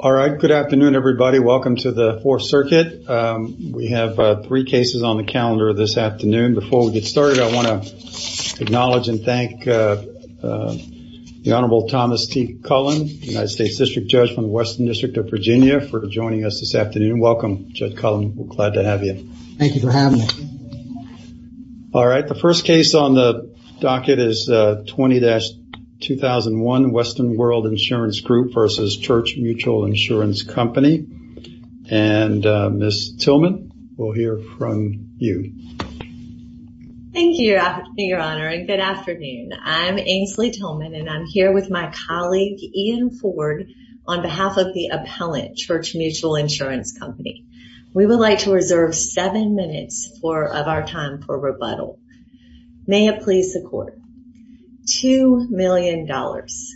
All right. Good afternoon, everybody. Welcome to the Fourth Circuit. We have three cases on the calendar this afternoon. Before we get started, I want to acknowledge and thank the Honorable Thomas T. Cullen, the United States District Judge from the Western District of Virginia, for joining us this afternoon. Welcome, Judge Cullen. We're glad to have you. Thank you for having me. All right. The first case on the docket is 20-2001, Western World Insurance Group v. Church Mutual Insurance Company. And Ms. Tillman, we'll hear from you. Thank you, Your Honor, and good afternoon. I'm Ainsley Tillman, and I'm here with my colleague, Ian Ford, on behalf of the Appellant Church Mutual Insurance Company. We would like to reserve seven minutes of our time for rebuttal. May it please the Court. Two million dollars.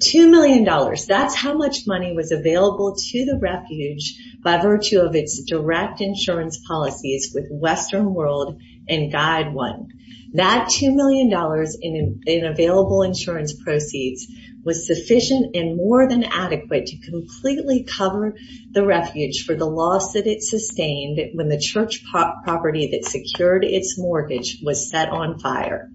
Two million dollars. That's how much money was available to the refuge by virtue of its direct insurance policies with Western World and Guide 1. That two million dollars in available insurance proceeds was sufficient and more than adequate to completely cover the refuge for the loss that it sustained when the church property that secured its mortgage was set on fire.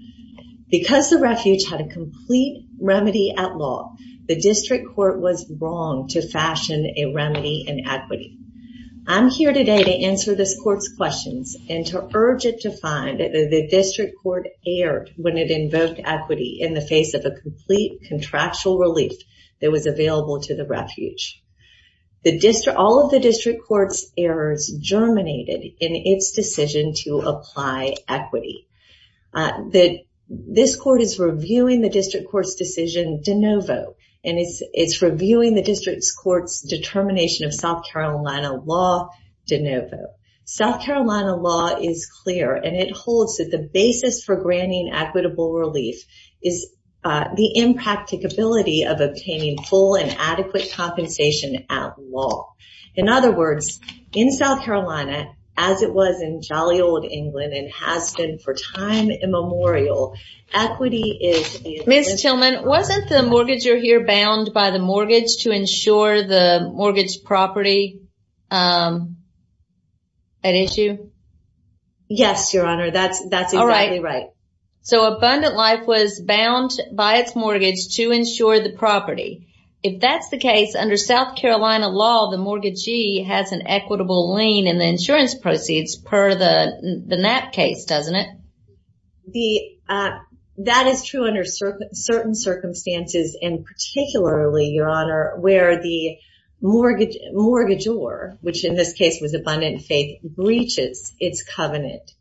Because the refuge had a complete remedy at law, the District Court was wrong to fashion a remedy in equity. I'm here today to answer this Court's questions and to urge it to find that the District Court erred when it invoked equity in the face of a complete contractual relief that was available to the refuge. All of the District Court's errors germinated in its decision to apply equity. This Court is reviewing the District Court's decision de novo, and it's reviewing the District Court's determination of South Carolina law de novo. South Carolina law is clear, and it holds that the basis for granting equitable relief is the impracticability of obtaining full and adequate compensation at law. In other words, in South Carolina, as it was in jolly old England and has been for time immemorial, equity is... Ms. Tillman, wasn't the mortgager here bound by the mortgage to ensure the mortgage property at issue? Yes, Your Honor, that's exactly right. So abundant life was bound by its mortgage to ensure the property. If that's the case, under South Carolina law, the mortgagee has an equitable lien in the insurance proceeds per the NAP case, doesn't it? That is true under certain circumstances, and particularly, Your Honor, where the mortgagor, which in this case was abundant faith, breaches its covenant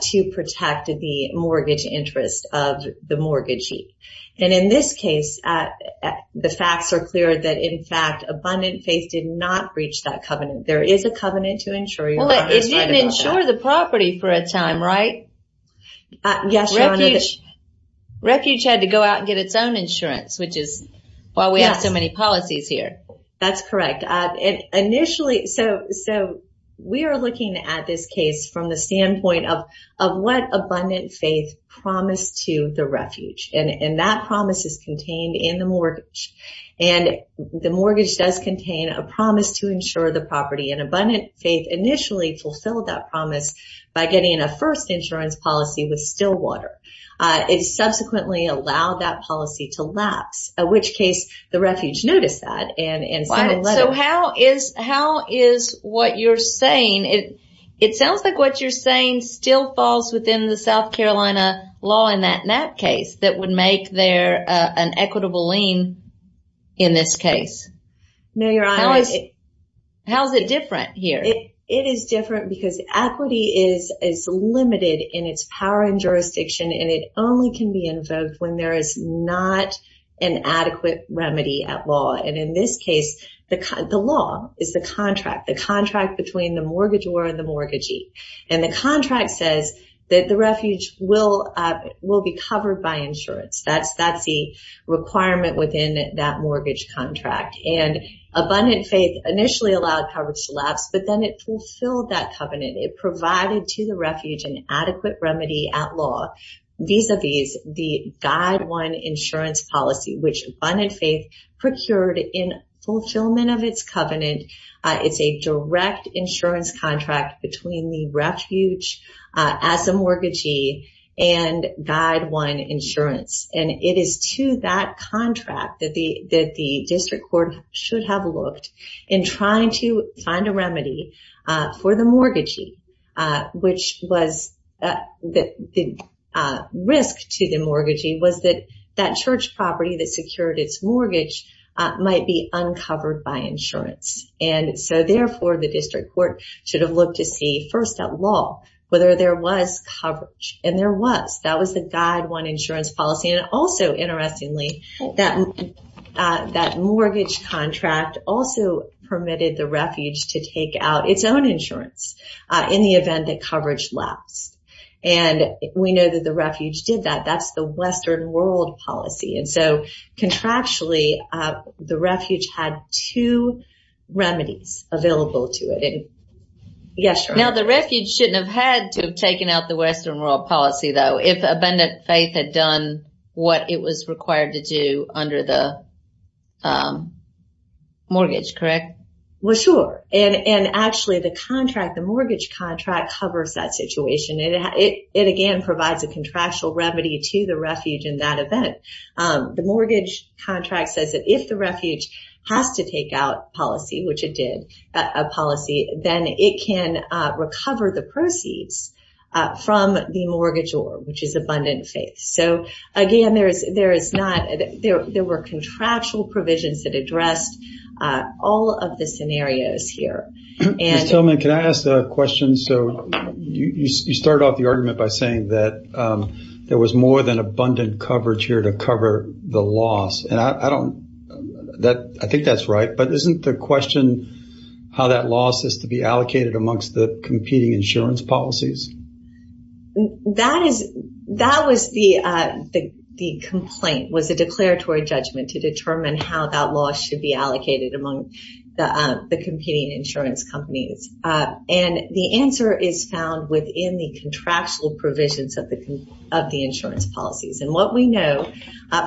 to protect the mortgage interest of the mortgagee. And in this case, the facts are clear that, in fact, abundant faith did not breach that covenant. There is a covenant to insure your property. Well, it didn't insure the property for a time, right? Yes, Your Honor. Refuge had to go out and get its own insurance, which is why we have so many policies here. That's correct. And initially, so we are looking at this case from the standpoint of what abundant faith promised to the refuge. And that promise is contained in the mortgage. And the mortgage does contain a promise to insure the property. And abundant faith initially fulfilled that promise by getting a first insurance policy with Stillwater. It subsequently allowed that policy to lapse, in which case the refuge noticed that and So how is what you're saying, it sounds like what you're saying still falls within the South Carolina law in that case that would make there an equitable lien in this case. No, Your Honor. How is it different here? It is different because equity is limited in its power and jurisdiction and it only can be invoked when there is not an adequate remedy at law. And in this case, the law is the contract, the contract between the mortgagor and the mortgagee. And the contract says that the refuge will be covered by insurance. That's the requirement within that mortgage contract. And abundant faith initially allowed coverage to lapse, but then it fulfilled that covenant. It provided to the refuge an adequate remedy at law vis-a-vis the guide one insurance policy, which abundant faith procured in fulfillment of its covenant. It's a direct insurance contract between the refuge as a mortgagee and guide one insurance. And it is to that contract that the district court should have looked in trying to find a remedy for the mortgagee, which was the risk to the mortgagee was that that church property that secured its mortgage might be uncovered by insurance. And so therefore, the district court should have looked to see first at law whether there was coverage. And there was. That was the guide one insurance policy. And also interestingly, that mortgage contract also permitted the refuge to take out its own insurance in the event that coverage lapsed. And we know that the refuge did that. That's the Western world policy. And so contractually, the refuge had two remedies available to it. Yes. Now, the refuge shouldn't have had to have taken out the Western world policy, though, if abundant faith had done what it was required to do under the mortgage, correct? Well, sure. And actually, the contract, the mortgage contract covers that situation. It again provides a contractual remedy to the refuge in that event. The mortgage contract says that if the refuge has to take out policy, which it did, a policy, then it can recover the proceeds from the mortgage, which is abundant faith. So again, there is there is not there. There were contractual provisions that addressed all of the scenarios here. Ms. Tillman, can I ask a question? So you started off the argument by saying that there was more than abundant coverage here to cover the loss. And I don't that I think that's right. But isn't the question how that loss is to be allocated amongst the competing insurance policies? That is that was the the complaint was a declaratory judgment to determine how that loss should be allocated among the competing insurance companies. And the answer is found within the contractual provisions of the of the insurance policies. And what we know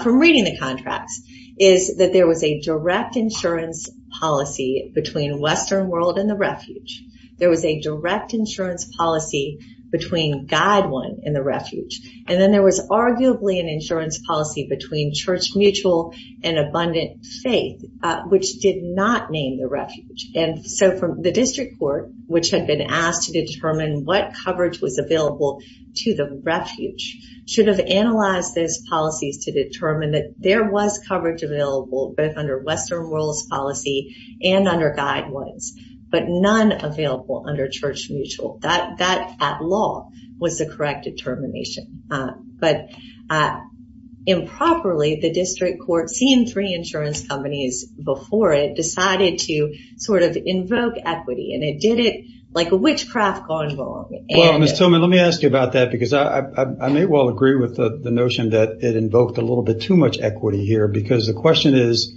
from reading the contracts is that there was a direct insurance policy between Western world and the refuge. There was a direct insurance policy between guide one in the refuge. And then there was arguably an insurance policy between Church Mutual and Abundant Faith, which did not name the refuge. And so the district court, which had been asked to determine what coverage was available to the refuge, should have analyzed those policies to determine that there was coverage available both under Western World's policy and under guide ones, but none available under Church Mutual. That at law was the correct determination. But improperly, the district court, seeing three insurance companies before it, decided to sort of invoke equity and it did it like a witchcraft gone wrong. Well, Ms. Tillman, let me ask you about that, because I may well agree with the notion that it invoked a little bit too much equity here, because the question is,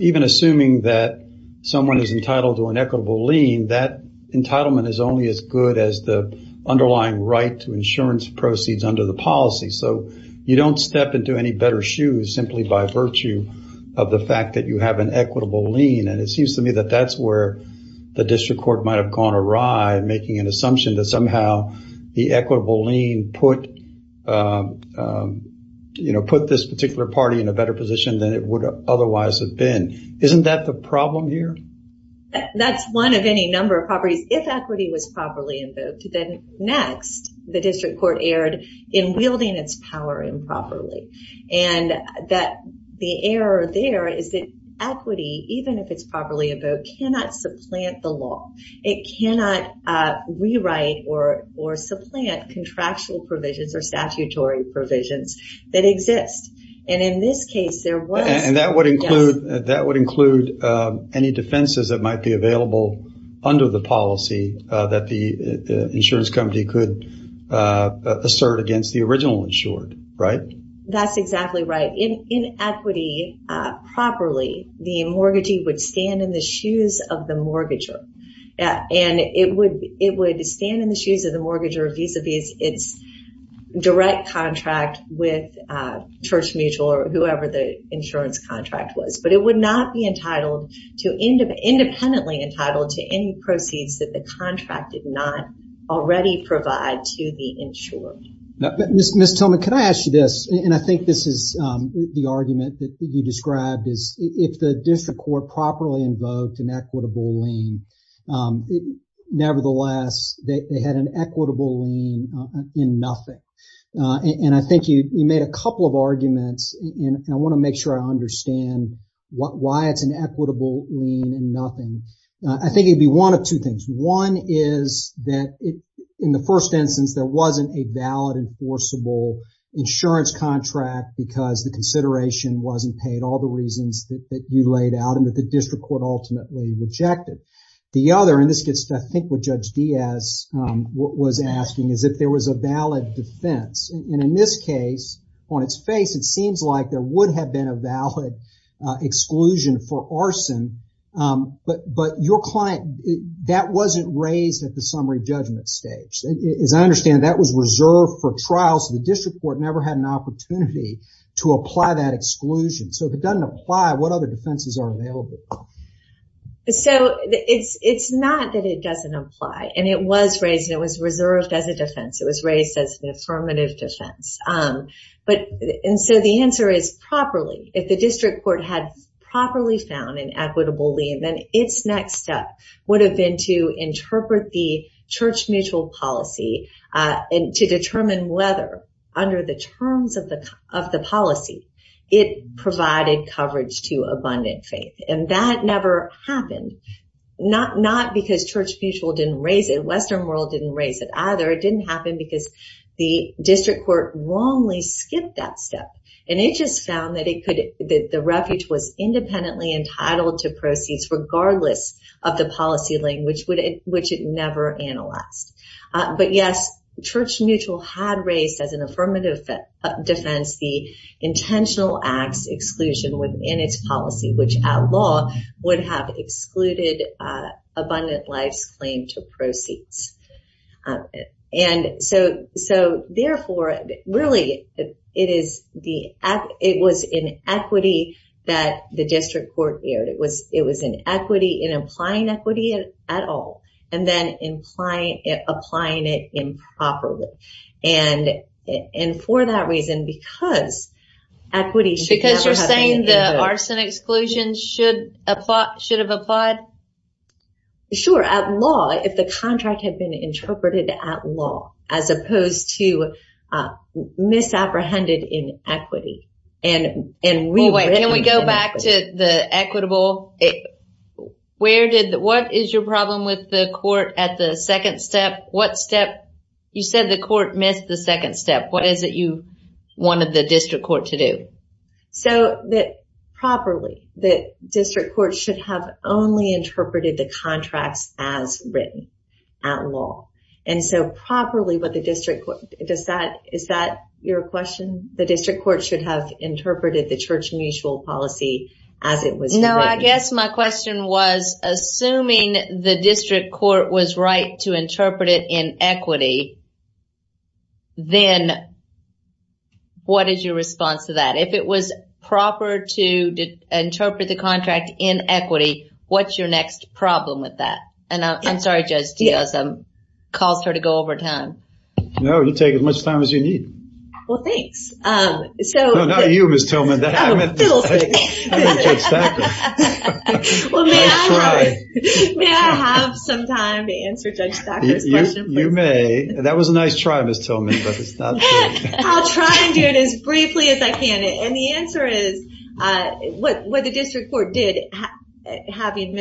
even assuming that someone is entitled to an equitable lien, that entitlement is only as good as the underlying right to insurance proceeds under the policy. So you don't step into any better shoes simply by virtue of the fact that you have an equitable lien. And it seems to me that that's where the district court might have gone awry, making an assumption that somehow the equitable lien put this particular party in a better position than it would otherwise have been. And isn't that the problem here? That's one of any number of properties. If equity was properly invoked, then next, the district court erred in wielding its power improperly. And that the error there is that equity, even if it's properly invoked, cannot supplant the law. It cannot rewrite or supplant contractual provisions or statutory provisions that exist. And in this case, there was. And that would include any defenses that might be available under the policy that the insurance company could assert against the original insured, right? That's exactly right. In equity, properly, the mortgagee would stand in the shoes of the mortgager. And it would stand in the shoes of the mortgager vis-a-vis its direct contract with Church Contract was. But it would not be entitled to independently entitled to any proceeds that the contract did not already provide to the insured. Ms. Tillman, can I ask you this? And I think this is the argument that you described is if the district court properly invoked an equitable lien, nevertheless, they had an equitable lien in nothing. And I think you made a couple of arguments. And I want to make sure I understand why it's an equitable lien in nothing. I think it'd be one of two things. One is that in the first instance, there wasn't a valid enforceable insurance contract because the consideration wasn't paid. All the reasons that you laid out and that the district court ultimately rejected. The other, and this gets to, I think, what Judge Diaz was asking, is if there was a valid defense. And in this case, on its face, it seems like there would have been a valid exclusion for arson. But your client, that wasn't raised at the summary judgment stage. As I understand it, that was reserved for trial so the district court never had an opportunity to apply that exclusion. So if it doesn't apply, what other defenses are available? So it's not that it doesn't apply. And it was raised. It was reserved as a defense. It was raised as an affirmative defense. And so the answer is properly. If the district court had properly found an equitable lien, then its next step would have been to interpret the church mutual policy and to determine whether, under the terms of the policy, it provided coverage to abundant faith. And that never happened. Not because church mutual didn't raise it. Western world didn't raise it either. It didn't happen because the district court wrongly skipped that step. And it just found that the refuge was independently entitled to proceeds regardless of the policy language which it never analyzed. But yes, church mutual had raised as an affirmative defense the intentional acts exclusion within its policy which, at law, would have excluded abundant life's claim to proceeds. And so therefore, really, it was an equity that the district court aired. It was an equity in applying equity at all and then applying it improperly. And for that reason, because equity should never have been in there. Because you're saying the arson exclusion should have applied? Sure. At law, if the contract had been interpreted at law, as opposed to misapprehended in equity. And we... Well, wait. Can we go back to the equitable? What is your problem with the court at the second step? What step? You said the court missed the second step. What is it you wanted the district court to do? So that properly, the district court should have only interpreted the contracts as written at law. And so properly, what the district court... Is that your question? The district court should have interpreted the church mutual policy as it was written? No, I guess my question was, assuming the district court was right to interpret it in equity, then what is your response to that? If it was proper to interpret the contract in equity, what's your next problem with that? And I'm sorry, Judge Diaz, I caused her to go over time. No, you take as much time as you need. Well, thanks. So... No, not you, Ms. Tillman. I meant Judge Sackler. Well, may I have some time to answer Judge Sackler's question, please? You may. That was a nice try, Ms. Tillman, but it's not true. I'll try and do it as briefly as I can. And the answer is, what the district court did, having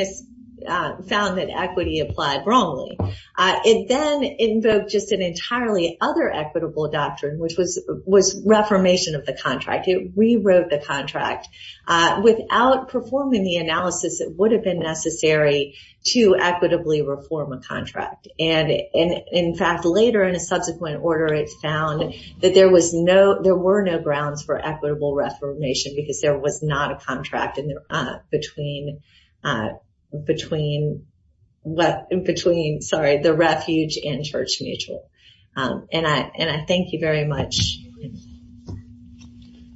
found that equity applied wrongly, it then invoked just an entirely other equitable doctrine, which was reformation of the contract. It rewrote the contract. Without performing the analysis, it would have been necessary to equitably reform a contract. And in fact, later in a subsequent order, it found that there were no grounds for equitable reformation because there was not a contract between the refuge and church mutual. And I thank you very much.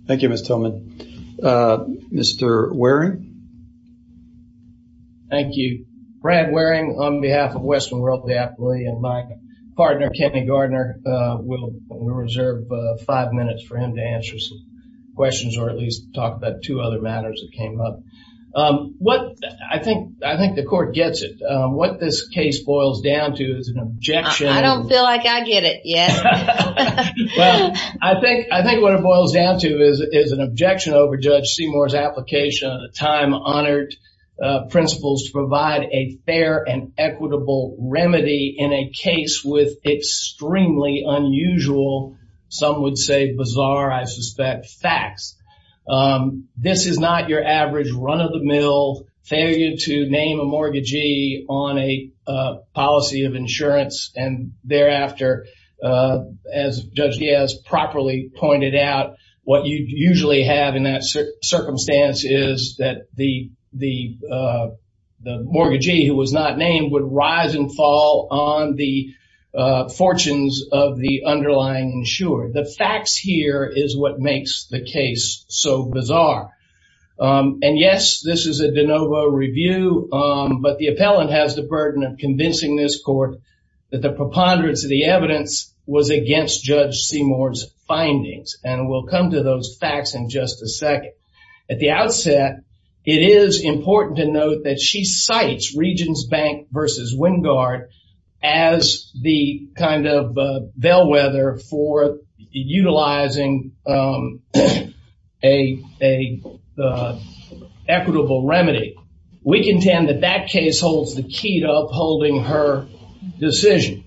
Thank you, Ms. Tillman. Mr. Waring? Thank you. Brad Waring on behalf of Western World Diapoly and my partner, Kenny Gardner, we'll reserve five minutes for him to answer some questions, or at least talk about two other matters that came up. What... I think the court gets it. What this case boils down to is an objection... I don't feel like I get it yet. Well, I think what it boils down to is an objection over Judge Seymour's application of the time-honored principles to provide a fair and equitable remedy in a case with extremely unusual, some would say bizarre, I suspect, facts. This is not your average run-of-the-mill failure to name a mortgagee on a policy of insurance and thereafter, as Judge Diaz properly pointed out, what you usually have in that circumstance is that the mortgagee who was not named would rise and fall on the fortunes of the underlying insured. The facts here is what makes the case so bizarre. And yes, this is a de novo review, but the appellant has the burden of convincing this that the preponderance of the evidence was against Judge Seymour's findings, and we'll come to those facts in just a second. At the outset, it is important to note that she cites Regions Bank versus Wingard as the kind of bellwether for utilizing a equitable remedy. We contend that that case holds the key to upholding her decision.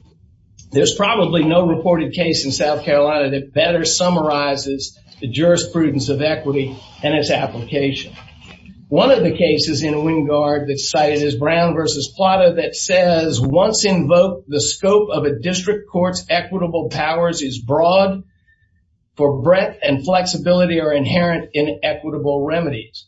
There's probably no reported case in South Carolina that better summarizes the jurisprudence of equity and its application. One of the cases in Wingard that's cited is Brown versus Plata that says, once invoked, the scope of a district court's equitable powers is broad, for breadth and flexibility are inherent in equitable remedies.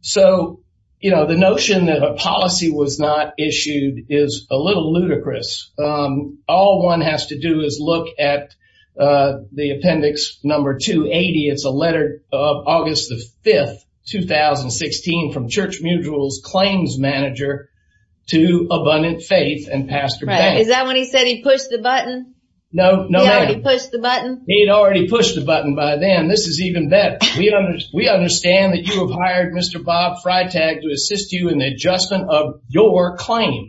So, you know, the notion that a policy was not issued is a little ludicrous. All one has to do is look at the appendix number 280. It's a letter of August the 5th, 2016, from Church Mutual's claims manager to Abundant Faith and Pastor Banks. Is that when he said he pushed the button? No, no. He already pushed the button? He'd already pushed the button by then. This is even better. We understand that you have hired Mr. Bob Freitag to assist you in the adjustment of your claim.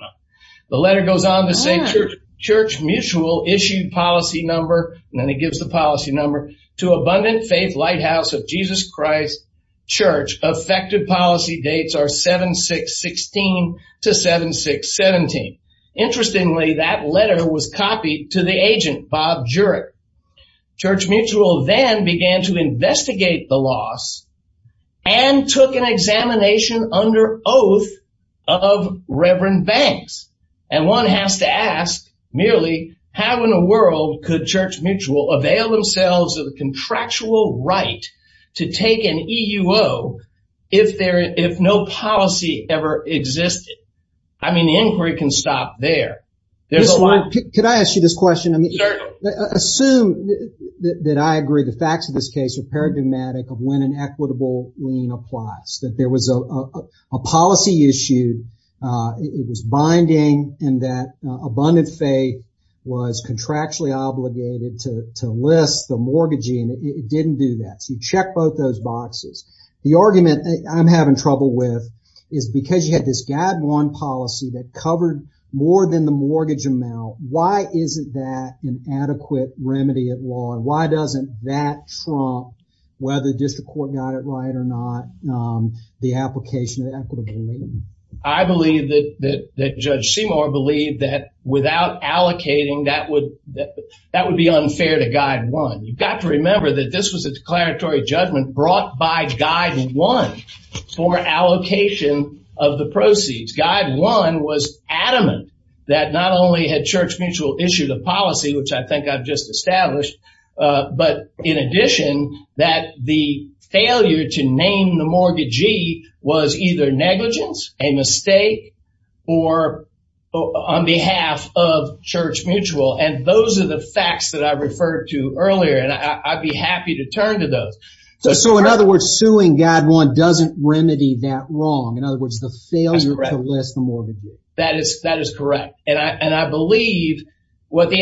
The letter goes on to say, Church Mutual issued policy number, and then he gives the policy number, to Abundant Faith Lighthouse of Jesus Christ Church. Effective policy dates are 7-6-16 to 7-6-17. Interestingly, that letter was copied to the agent, Bob Jurick. Church Mutual then began to investigate the loss and took an examination under oath of Reverend Banks. And one has to ask, merely, how in the world could Church Mutual avail themselves of the contractual right to take an EUO if no policy ever existed? I mean, the inquiry can stop there. There's a lot. Could I ask you this question? Certainly. Assume that I agree the facts of this case are paradigmatic of when an equitable lien applies. That there was a policy issued, it was binding, and that Abundant Faith was contractually obligated to list the mortgagee, and it didn't do that. So you check both those boxes. The argument I'm having trouble with is because you had this Gad 1 policy that covered more than the mortgage amount, why isn't that an adequate remedy at law? Why doesn't that trump, whether the district court got it right or not, the application of equitable lien? I believe that Judge Seymour believed that without allocating, that would be unfair to Gad 1. You've got to remember that this was a declaratory judgment brought by Gad 1 for allocation of the proceeds. Gad 1 was adamant that not only had Church Mutual issued a policy, which I think I've just established, but in addition, that the failure to name the mortgagee was either negligence, a mistake, or on behalf of Church Mutual. And those are the facts that I referred to earlier, and I'd be happy to turn to those. So in other words, suing Gad 1 doesn't remedy that wrong. In other words, the failure to list the mortgagee. That is correct. And I believe what the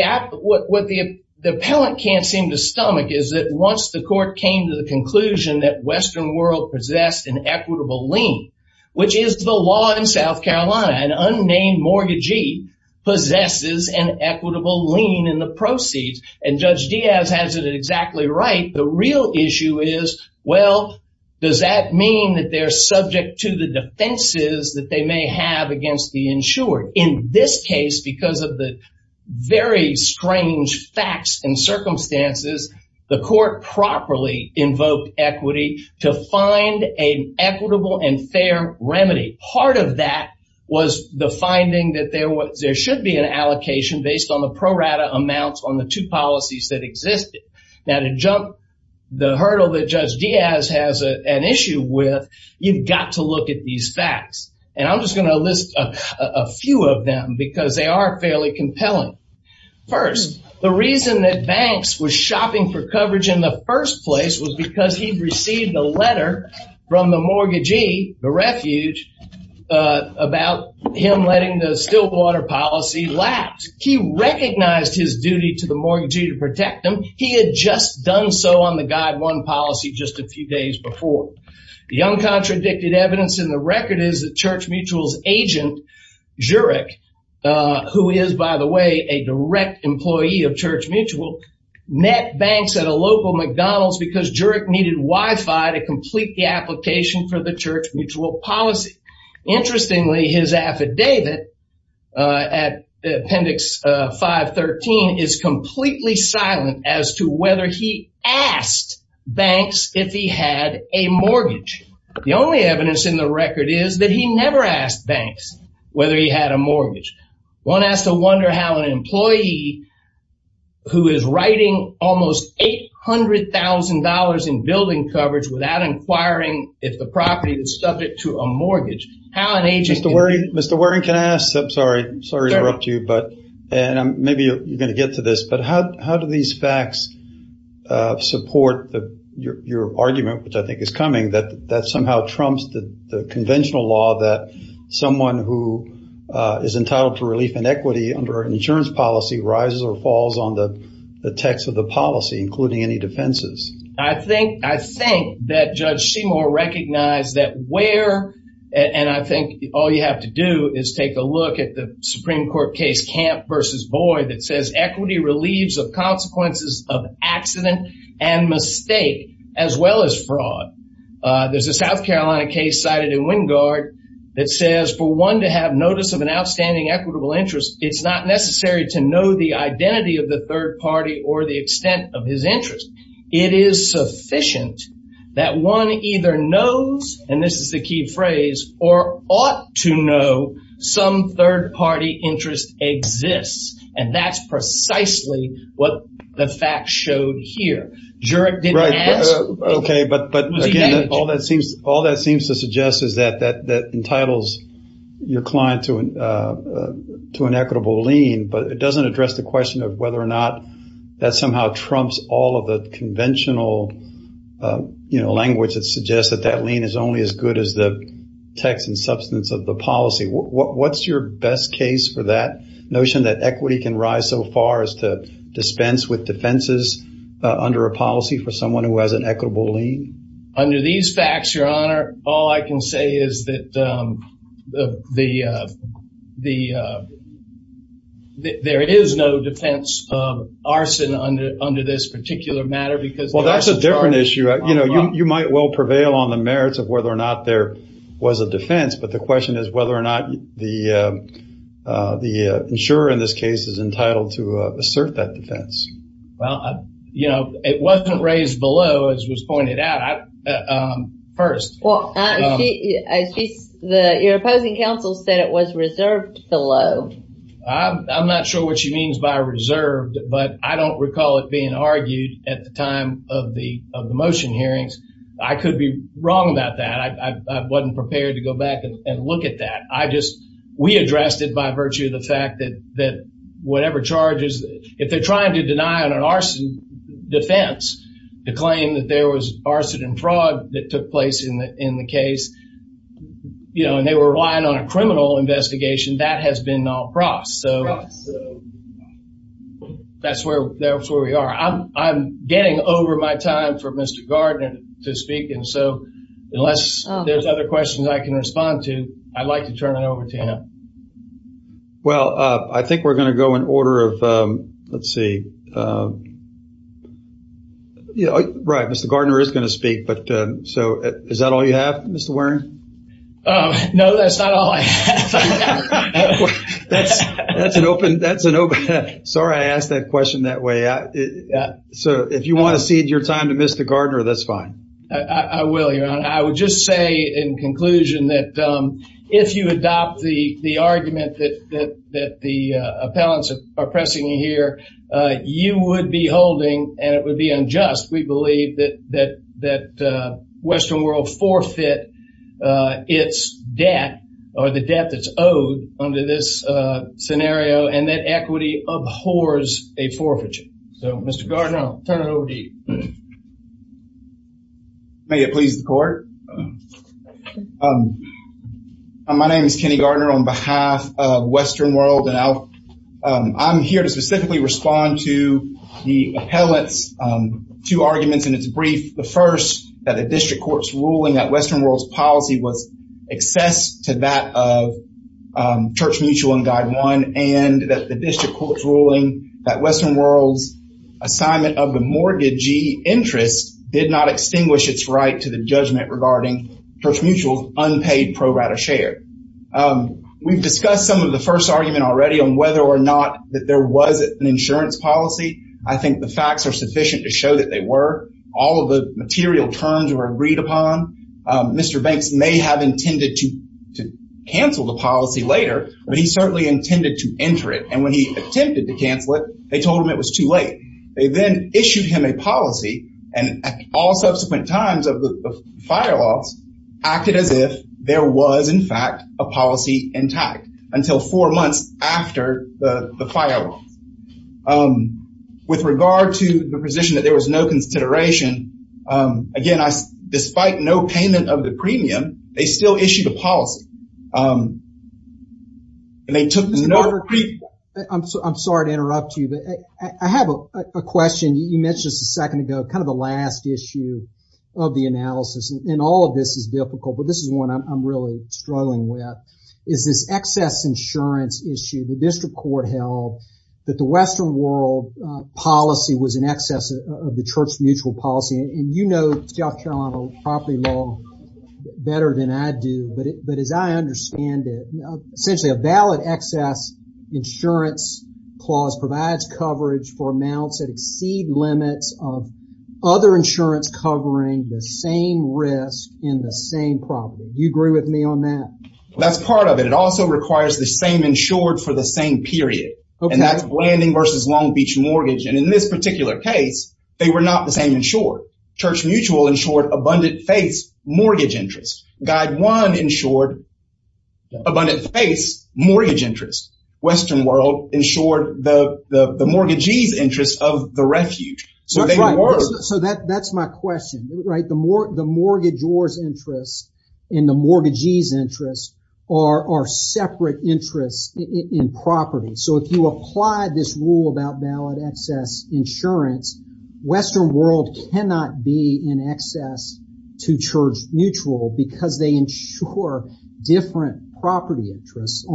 appellant can't seem to stomach is that once the court came to the conclusion that Western World possessed an equitable lien, which is the law in South Carolina, an unnamed mortgagee possesses an equitable lien in the proceeds, and Judge Diaz has it exactly right, the real issue is, well, does that mean that they're subject to the defenses that they may have against the insured? In this case, because of the very strange facts and circumstances, the court properly invoked equity to find an equitable and fair remedy. Part of that was the finding that there should be an allocation based on the pro rata amounts on the two policies that existed. Now to jump the hurdle that Judge Diaz has an issue with, you've got to look at these facts, and I'm just going to list a few of them because they are fairly compelling. First, the reason that Banks was shopping for coverage in the first place was because he'd received a letter from the mortgagee, the refuge, about him letting the Stillwater policy lapse. He recognized his duty to the mortgagee to protect them. He had just done so on the Guide 1 policy just a few days before. The uncontradicted evidence in the record is that Church Mutual's agent, Jurek, who is, by the way, a direct employee of Church Mutual, met Banks at a local McDonald's because Jurek needed Wi-Fi to complete the application for the Church Mutual policy. Interestingly, his affidavit at Appendix 513 is completely silent as to whether he asked Banks if he had a mortgage. The only evidence in the record is that he never asked Banks whether he had a mortgage. One has to wonder how an employee who is writing almost $800,000 in building coverage without inquiring if the property is subject to a mortgage, how an agent can- Mr. Waring, can I ask, I'm sorry to interrupt you, but maybe you're going to get to this, but how do these facts support your argument, which I think is coming, that somehow trumps the conventional law that someone who is entitled to relief and equity under an insurance policy rises or falls on the text of the policy, including any defenses? I think that Judge Seymour recognized that where, and I think all you have to do is take a look at the Supreme Court case Camp v. Boyd that says equity relieves of consequences of accident and mistake as well as fraud. There's a South Carolina case cited in Wingard that says, for one to have notice of an outstanding equitable interest, it's not necessary to know the identity of the third party or the extent of his interest. It is sufficient that one either knows, and this is the key phrase, or ought to know some third party interest exists. And that's precisely what the facts showed here. Jurek didn't ask- Right, but again, all that seems to suggest is that that entitles your client to an equitable lien, but it doesn't address the question of whether or not that somehow trumps all of the conventional, you know, language that suggests that that lien is only as good as the text and substance of the policy. What's your best case for that notion that equity can rise so far as to dispense with defenses under a policy for someone who has an equitable lien? Under these facts, Your Honor, all I can say is that there is no defense of arson under this particular matter because- Well, that's a different issue. You know, you might well prevail on the merits of whether or not there was a defense. But the question is whether or not the insurer in this case is entitled to assert that defense. Well, you know, it wasn't raised below, as was pointed out first. Well, your opposing counsel said it was reserved below. I'm not sure what she means by reserved, but I don't recall it being argued at the time of the motion hearings. I could be wrong about that. I wasn't prepared to go back and look at that. I just, we addressed it by virtue of the fact that whatever charges, if they're trying to deny on an arson defense to claim that there was arson and fraud that took place in the case, you know, and they were relying on a criminal investigation, that has been all cross. So that's where we are. I'm getting over my time for Mr. Gardner to speak. And so unless there's other questions I can respond to, I'd like to turn it over to him. Well, I think we're going to go in order of, let's see. Right, Mr. Gardner is going to speak. But so, is that all you have, Mr. Waring? No, that's not all I have. That's an open, that's an open, sorry I asked that question that way. So if you want to cede your time to Mr. Gardner, that's fine. I will, Your Honor. I would just say in conclusion that if you adopt the argument that the appellants are pressing you here, you would be holding, and it would be unjust, we believe, that Western World forfeit its debt, or the debt that's owed under this scenario. And that equity abhors a forfeiture. So, Mr. Gardner, I'll turn it over to you. May it please the court. My name is Kenny Gardner on behalf of Western World. And I'm here to specifically respond to the appellate's two arguments in its brief. The first, that the district court's ruling that Western World's policy was excess to that of Church Mutual and Guide One. And that the district court's ruling that Western World's assignment of the mortgagee interest did not extinguish its right to the judgment regarding Church Mutual's unpaid pro rata share. We've discussed some of the first argument already on whether or not that there was an insurance policy. I think the facts are sufficient to show that they were. All of the material terms were agreed upon. Mr. Banks may have intended to cancel the policy later, but he certainly intended to enter it. And when he attempted to cancel it, they told him it was too late. They then issued him a policy. And all subsequent times of the fire laws acted as if there was, in fact, a policy intact until four months after the fire laws. With regard to the position that there was no consideration, again, despite no payment of the premium, they still issued a policy. And they took no- I'm sorry to interrupt you, but I have a question you mentioned just a second ago, kind of the last issue of the analysis. And all of this is difficult, but this is one I'm really struggling with. Is this excess insurance issue the district court held? That the Western world policy was in excess of the church mutual policy. And you know, South Carolina property law better than I do. But as I understand it, essentially a valid excess insurance clause provides coverage for amounts that exceed limits of other insurance covering the same risk in the same property. You agree with me on that? That's part of it. It also requires the same insured for the same period. And that's Blanding versus Long Beach mortgage. And in this particular case, they were not the same insured. Church mutual insured abundant face mortgage interest. Guide one insured abundant face mortgage interest. Western world insured the mortgagee's interest of the refuge. So that's my question, right? The mortgagee's interest and the mortgagee's interest are separate interests in property. So if you apply this rule about valid excess insurance, Western world cannot be in excess to church neutral because they insure different property interests, a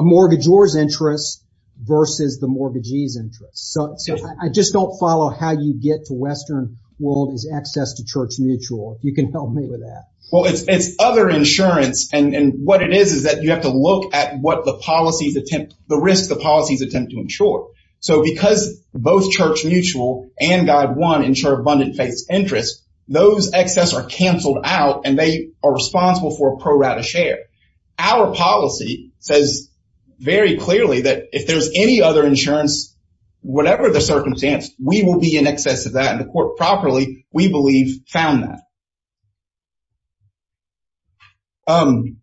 mortgagor's interest versus the mortgagee's interest. So I just don't follow how you get to Western world is access to church mutual. You can help me with that. Well, it's other insurance. And what it is, is that you have to look at what the policies attempt, the risk the policies attempt to insure. So because both church mutual and guide one insure abundant face interest, those excess are canceled out and they are responsible for a pro rata share. Our policy says very clearly that if there's any other insurance, whatever the circumstance, we will be in excess of that. And the court properly, we believe, found that. I'm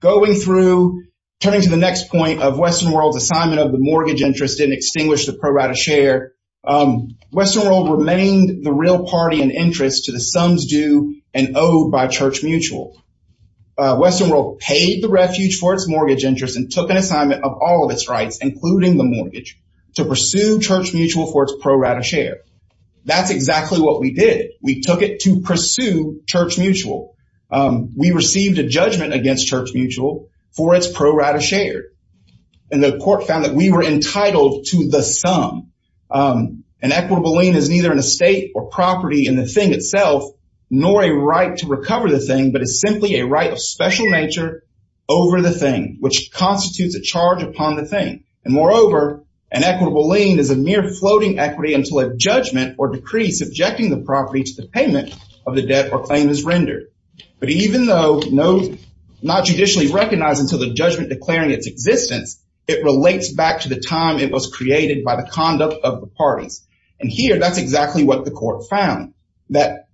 going through turning to the next point of Western world's assignment of the mortgage interest and extinguish the pro rata share. Western world remained the real party and interest to the sums due and owed by church mutual. Western world paid the refuge for its mortgage interest and took an assignment of all of its rights, including the mortgage, to pursue church mutual for its pro rata share. That's exactly what we did. We took it to pursue church mutual. We received a judgment against church mutual for its pro rata share. And the court found that we were entitled to the sum. An equitable lien is neither an estate or property in the thing itself, nor a right to recover the thing, but it's simply a right of special nature over the thing, which constitutes a charge upon the thing. And moreover, an equitable lien is a mere floating equity until a judgment or payment of the debt or claim is rendered. But even though not judicially recognized until the judgment declaring its existence, it relates back to the time it was created by the conduct of the parties. And here, that's exactly what the court found, that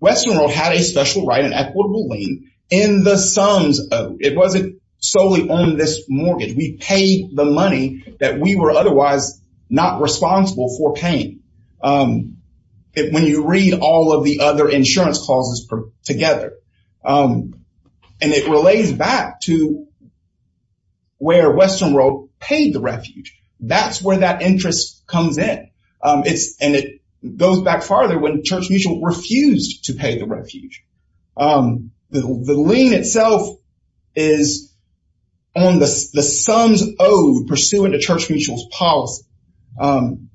Western world had a special right, an equitable lien in the sums. It wasn't solely on this mortgage. We paid the money that we were otherwise not responsible for paying. When you read all of the other insurance clauses together, and it relates back to where Western world paid the refuge. That's where that interest comes in. And it goes back farther when church mutual refused to pay the refuge. The lien itself is on the sums owed pursuant to church mutual's policy. And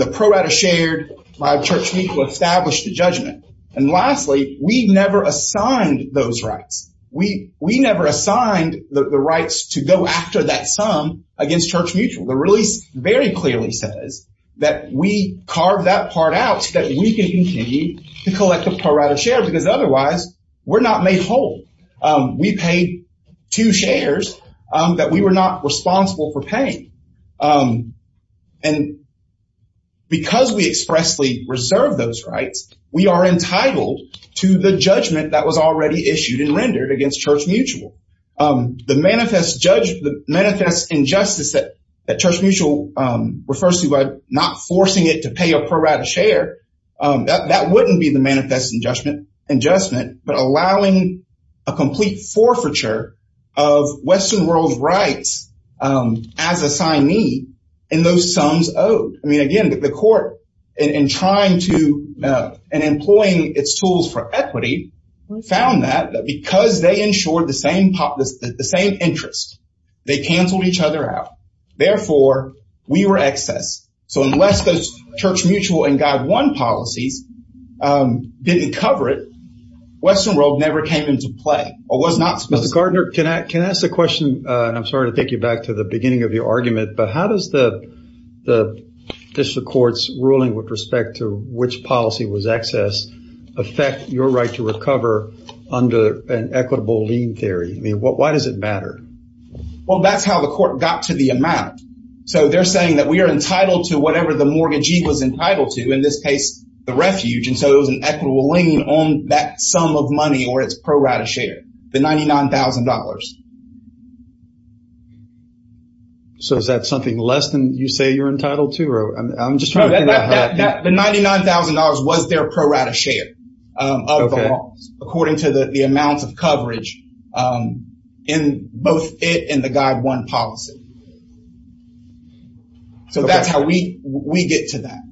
the pro rata shared by church mutual established the judgment. And lastly, we never assigned those rights. We never assigned the rights to go after that sum against church mutual. The release very clearly says that we carved that part out so that we can continue to collect the pro rata share because otherwise we're not made whole. And because we expressly reserve those rights, we are entitled to the judgment that was already issued and rendered against church mutual. The manifest injustice that church mutual refers to by not forcing it to pay a pro rata share, that wouldn't be the manifest injustice, but allowing a complete forfeiture of the sums owed. I mean, again, the court in trying to and employing its tools for equity found that because they insured the same interest, they canceled each other out. Therefore, we were excess. So unless those church mutual and guide one policies didn't cover it, Western world never came into play or was not supposed to. Mr. Gardner, can I ask a question? I'm sorry to take you back to the beginning of your argument. But how does the district court's ruling with respect to which policy was excess affect your right to recover under an equitable lien theory? I mean, why does it matter? Well, that's how the court got to the amount. So they're saying that we are entitled to whatever the mortgagee was entitled to, in this case, the refuge. And so it was an equitable lien on that sum of money or its pro rata share, the $99,000. So is that something less than you say you're entitled to? Or I'm just trying to figure out how that the $99,000 was their pro rata share of the law, according to the amounts of coverage in both it and the guide one policy. So that's how we we get to that.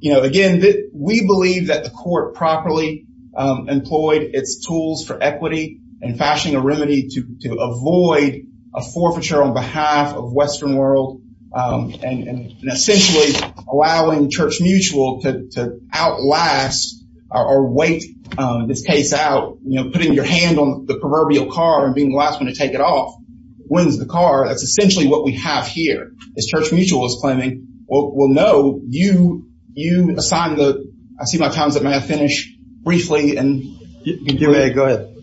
You know, again, we believe that the court properly employed its tools for equity and fashioning a remedy to avoid a forfeiture on behalf of Western world and essentially allowing Church Mutual to outlast or wait this case out, you know, putting your hand on the proverbial car and being the last one to take it off wins the car. That's essentially what we have here is Church Mutual is claiming, well, no, you assign the, I see my time's up. May I finish briefly? And go ahead.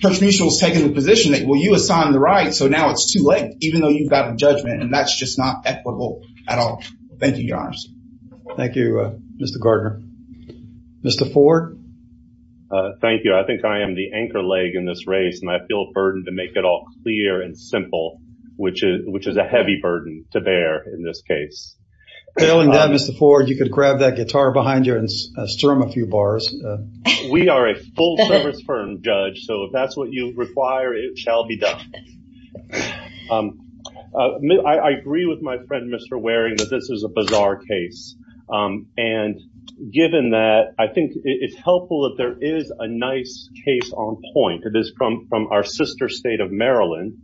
Church Mutual is taking the position that, well, you assigned the right. So now it's too late, even though you've got a judgment. And that's just not equitable at all. Thank you, your honors. Thank you, Mr. Gardner. Mr. Ford. Thank you. I think I am the anchor leg in this race and I feel a burden to make it all clear and simple, which is a heavy burden to bear in this case. Failing that, Mr. Ford, you could grab that guitar behind you and strum a few bars. We are a full service firm, Judge. So if that's what you require, it shall be done. I agree with my friend, Mr. Waring, that this is a bizarre case. And given that, I think it's helpful that there is a nice case on point. It is from our sister state of Maryland,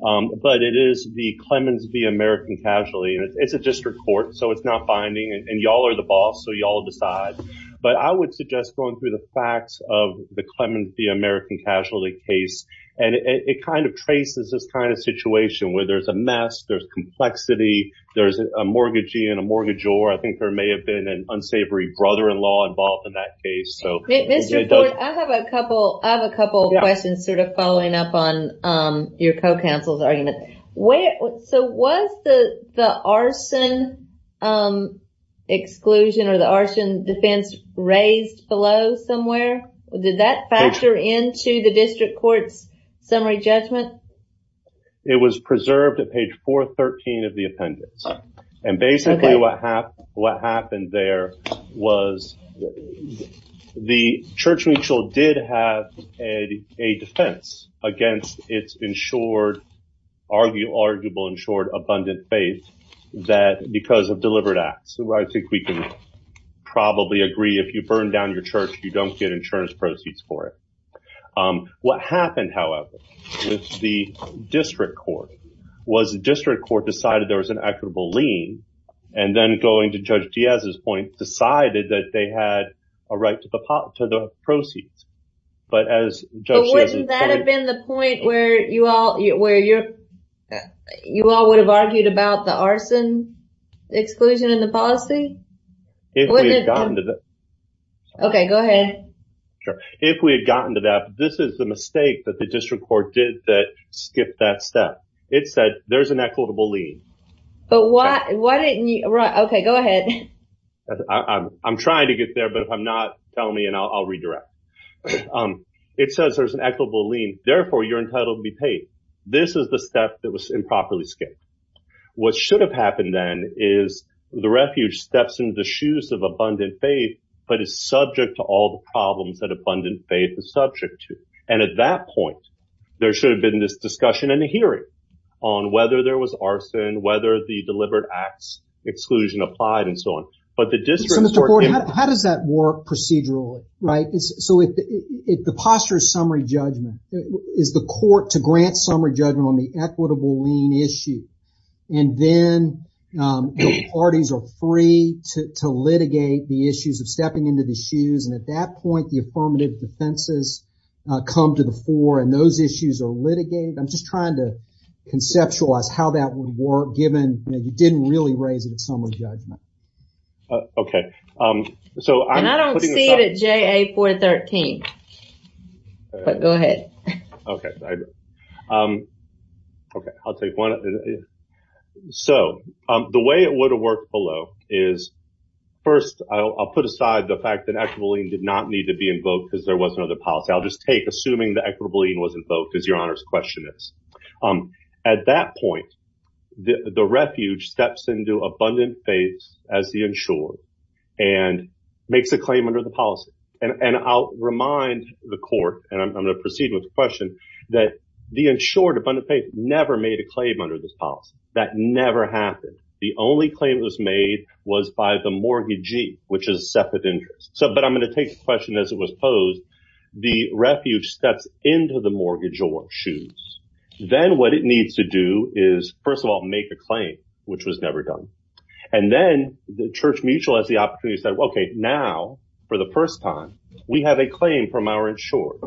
but it is the Clemens v. American Casualty. And it's a district court, so it's not binding. And y'all are the boss, so y'all decide. But I would suggest going through the facts of the Clemens v. American Casualty case. And it kind of traces this kind of situation where there's a mess, there's complexity, there's a mortgagee and a mortgagor. I think there may have been an unsavory brother-in-law involved in that case. Mr. Ford, I have a couple of questions sort of following up on your co-counsel's argument. So was the arson exclusion or the arson defense raised below somewhere? Did that factor into the district court's summary judgment? It was preserved at page 413 of the appendix. And basically what happened there was the church mutual did have a defense against its insured, arguable insured, abundant faith that because of deliberate acts. So I think we can probably agree if you burn down your church, you don't get insurance proceeds for it. What happened, however, with the district court was the district court decided there was an equitable lien and then going to Judge Diaz's point, decided that they had a right to the proceeds. But as Judge Diaz- But wouldn't that have been the point where you all would have argued about the arson exclusion in the policy? If we had gotten to that. OK, go ahead. If we had gotten to that, this is the mistake that the district court did that skipped that step. It said there's an equitable lien. But why didn't you- OK, go ahead. I'm trying to get there, but if I'm not, tell me and I'll redirect. It says there's an equitable lien. Therefore, you're entitled to be paid. This is the step that was improperly skipped. What should have happened then is the refuge steps into the shoes of abundant faith, but is subject to all the problems that abundant faith is subject to. And at that point, there should have been this discussion and a hearing. On whether there was arson, whether the deliberate acts exclusion applied and so on. But the district- So Mr. Ford, how does that work procedurally, right? So if the posture summary judgment is the court to grant summary judgment on the equitable lien issue and then parties are free to litigate the issues of stepping into the shoes. And at that point, the affirmative defenses come to the fore and those issues are litigated. I'm just trying to conceptualize how that would work, given you didn't really raise the summary judgment. OK. So I don't see it at JA 413, but go ahead. OK, I'll take one. So the way it would have worked below is, first, I'll put aside the fact that equitable lien did not need to be invoked because there was another policy. I'll just take, assuming the equitable lien was invoked, as your Honor's question is. At that point, the refuge steps into abundant faith as the insured and makes a claim under the policy. And I'll remind the court, and I'm going to proceed with the question, that the insured abundant faith never made a claim under this policy. That never happened. The only claim that was made was by the mortgagee, which is a separate interest. So, but I'm going to take the question as it was posed, the refuge steps into the mortgage or shoes. Then what it needs to do is, first of all, make a claim, which was never done. And then the Church Mutual has the opportunity to say, OK, now, for the first time, we have a claim from our insurer,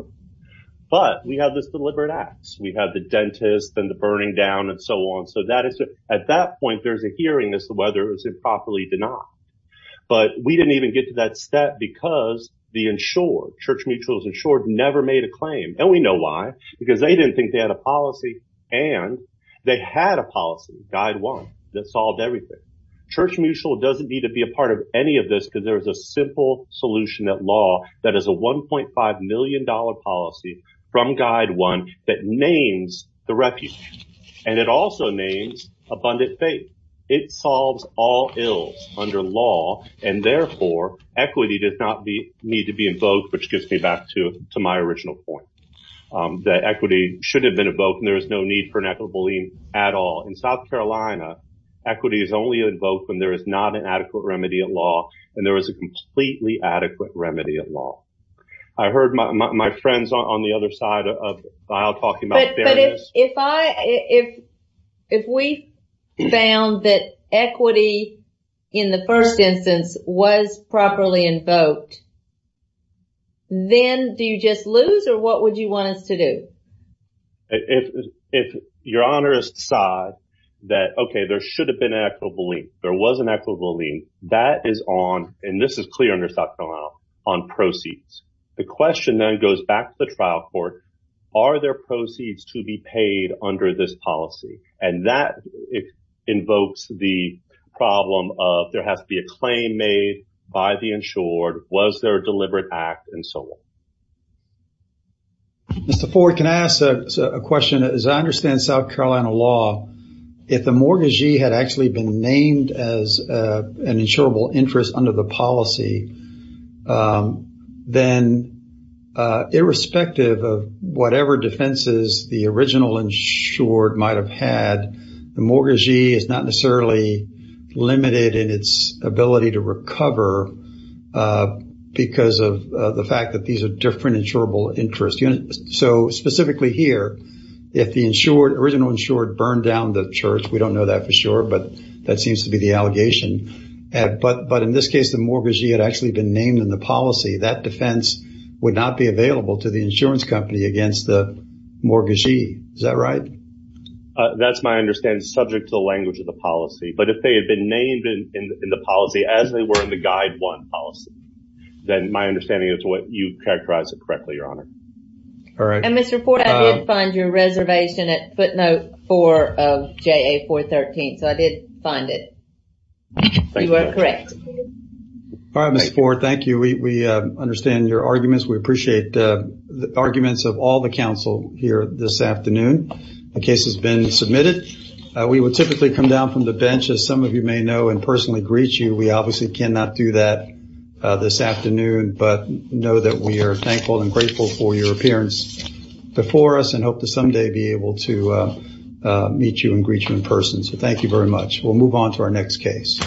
but we have this deliberate acts. We have the dentist and the burning down and so on. So that is it. At that point, there's a hearing as to whether it was improperly made or not. But we didn't even get to that step because the insured, Church Mutual's insured, never made a claim. And we know why, because they didn't think they had a policy. And they had a policy, Guide 1, that solved everything. Church Mutual doesn't need to be a part of any of this because there is a simple solution at law that is a 1.5 million dollar policy from Guide 1 that names the refuge. And it also names abundant faith. It solves all ills under law and therefore equity does not need to be invoked, which gets me back to my original point that equity should have been invoked and there is no need for an equitable lien at all. In South Carolina, equity is only invoked when there is not an adequate remedy at law and there is a completely adequate remedy at law. I heard my friends on the other side of the aisle talking about fairness. If I if if we found that equity in the first instance was properly invoked. Then do you just lose or what would you want us to do? If your honor is to decide that, OK, there should have been an equitable lien, there was an equitable lien, that is on and this is clear under South Carolina, on proceeds. The question then goes back to the trial court. Are there proceeds to be paid under this policy? And that invokes the problem of there has to be a claim made by the insured. Was there a deliberate act and so on? Mr. Ford, can I ask a question? As I understand South Carolina law, if the mortgagee had actually been named as an insured, then irrespective of whatever defenses the original insured might have had, the mortgagee is not necessarily limited in its ability to recover because of the fact that these are different insurable interest units. So specifically here, if the insured, original insured burned down the church, we don't know that for sure, but that seems to be the allegation. But in this case, the mortgagee had actually been named in the policy. That defense would not be available to the insurance company against the mortgagee. Is that right? That's my understanding, subject to the language of the policy. But if they had been named in the policy as they were in the guide one policy, then my understanding is what you characterized it correctly, Your Honor. All right. And Mr. Ford, I did find your reservation at footnote four of JA 413. So I did find it. You are correct. All right, Mr. Ford. Thank you. We understand your arguments. We appreciate the arguments of all the counsel here this afternoon. The case has been submitted. We would typically come down from the bench, as some of you may know, and personally greet you, we obviously cannot do that this afternoon, but know that we are thankful and grateful for your appearance before us and hope to someday be able to meet you and greet you in person. So thank you very much. We'll move on to our next case.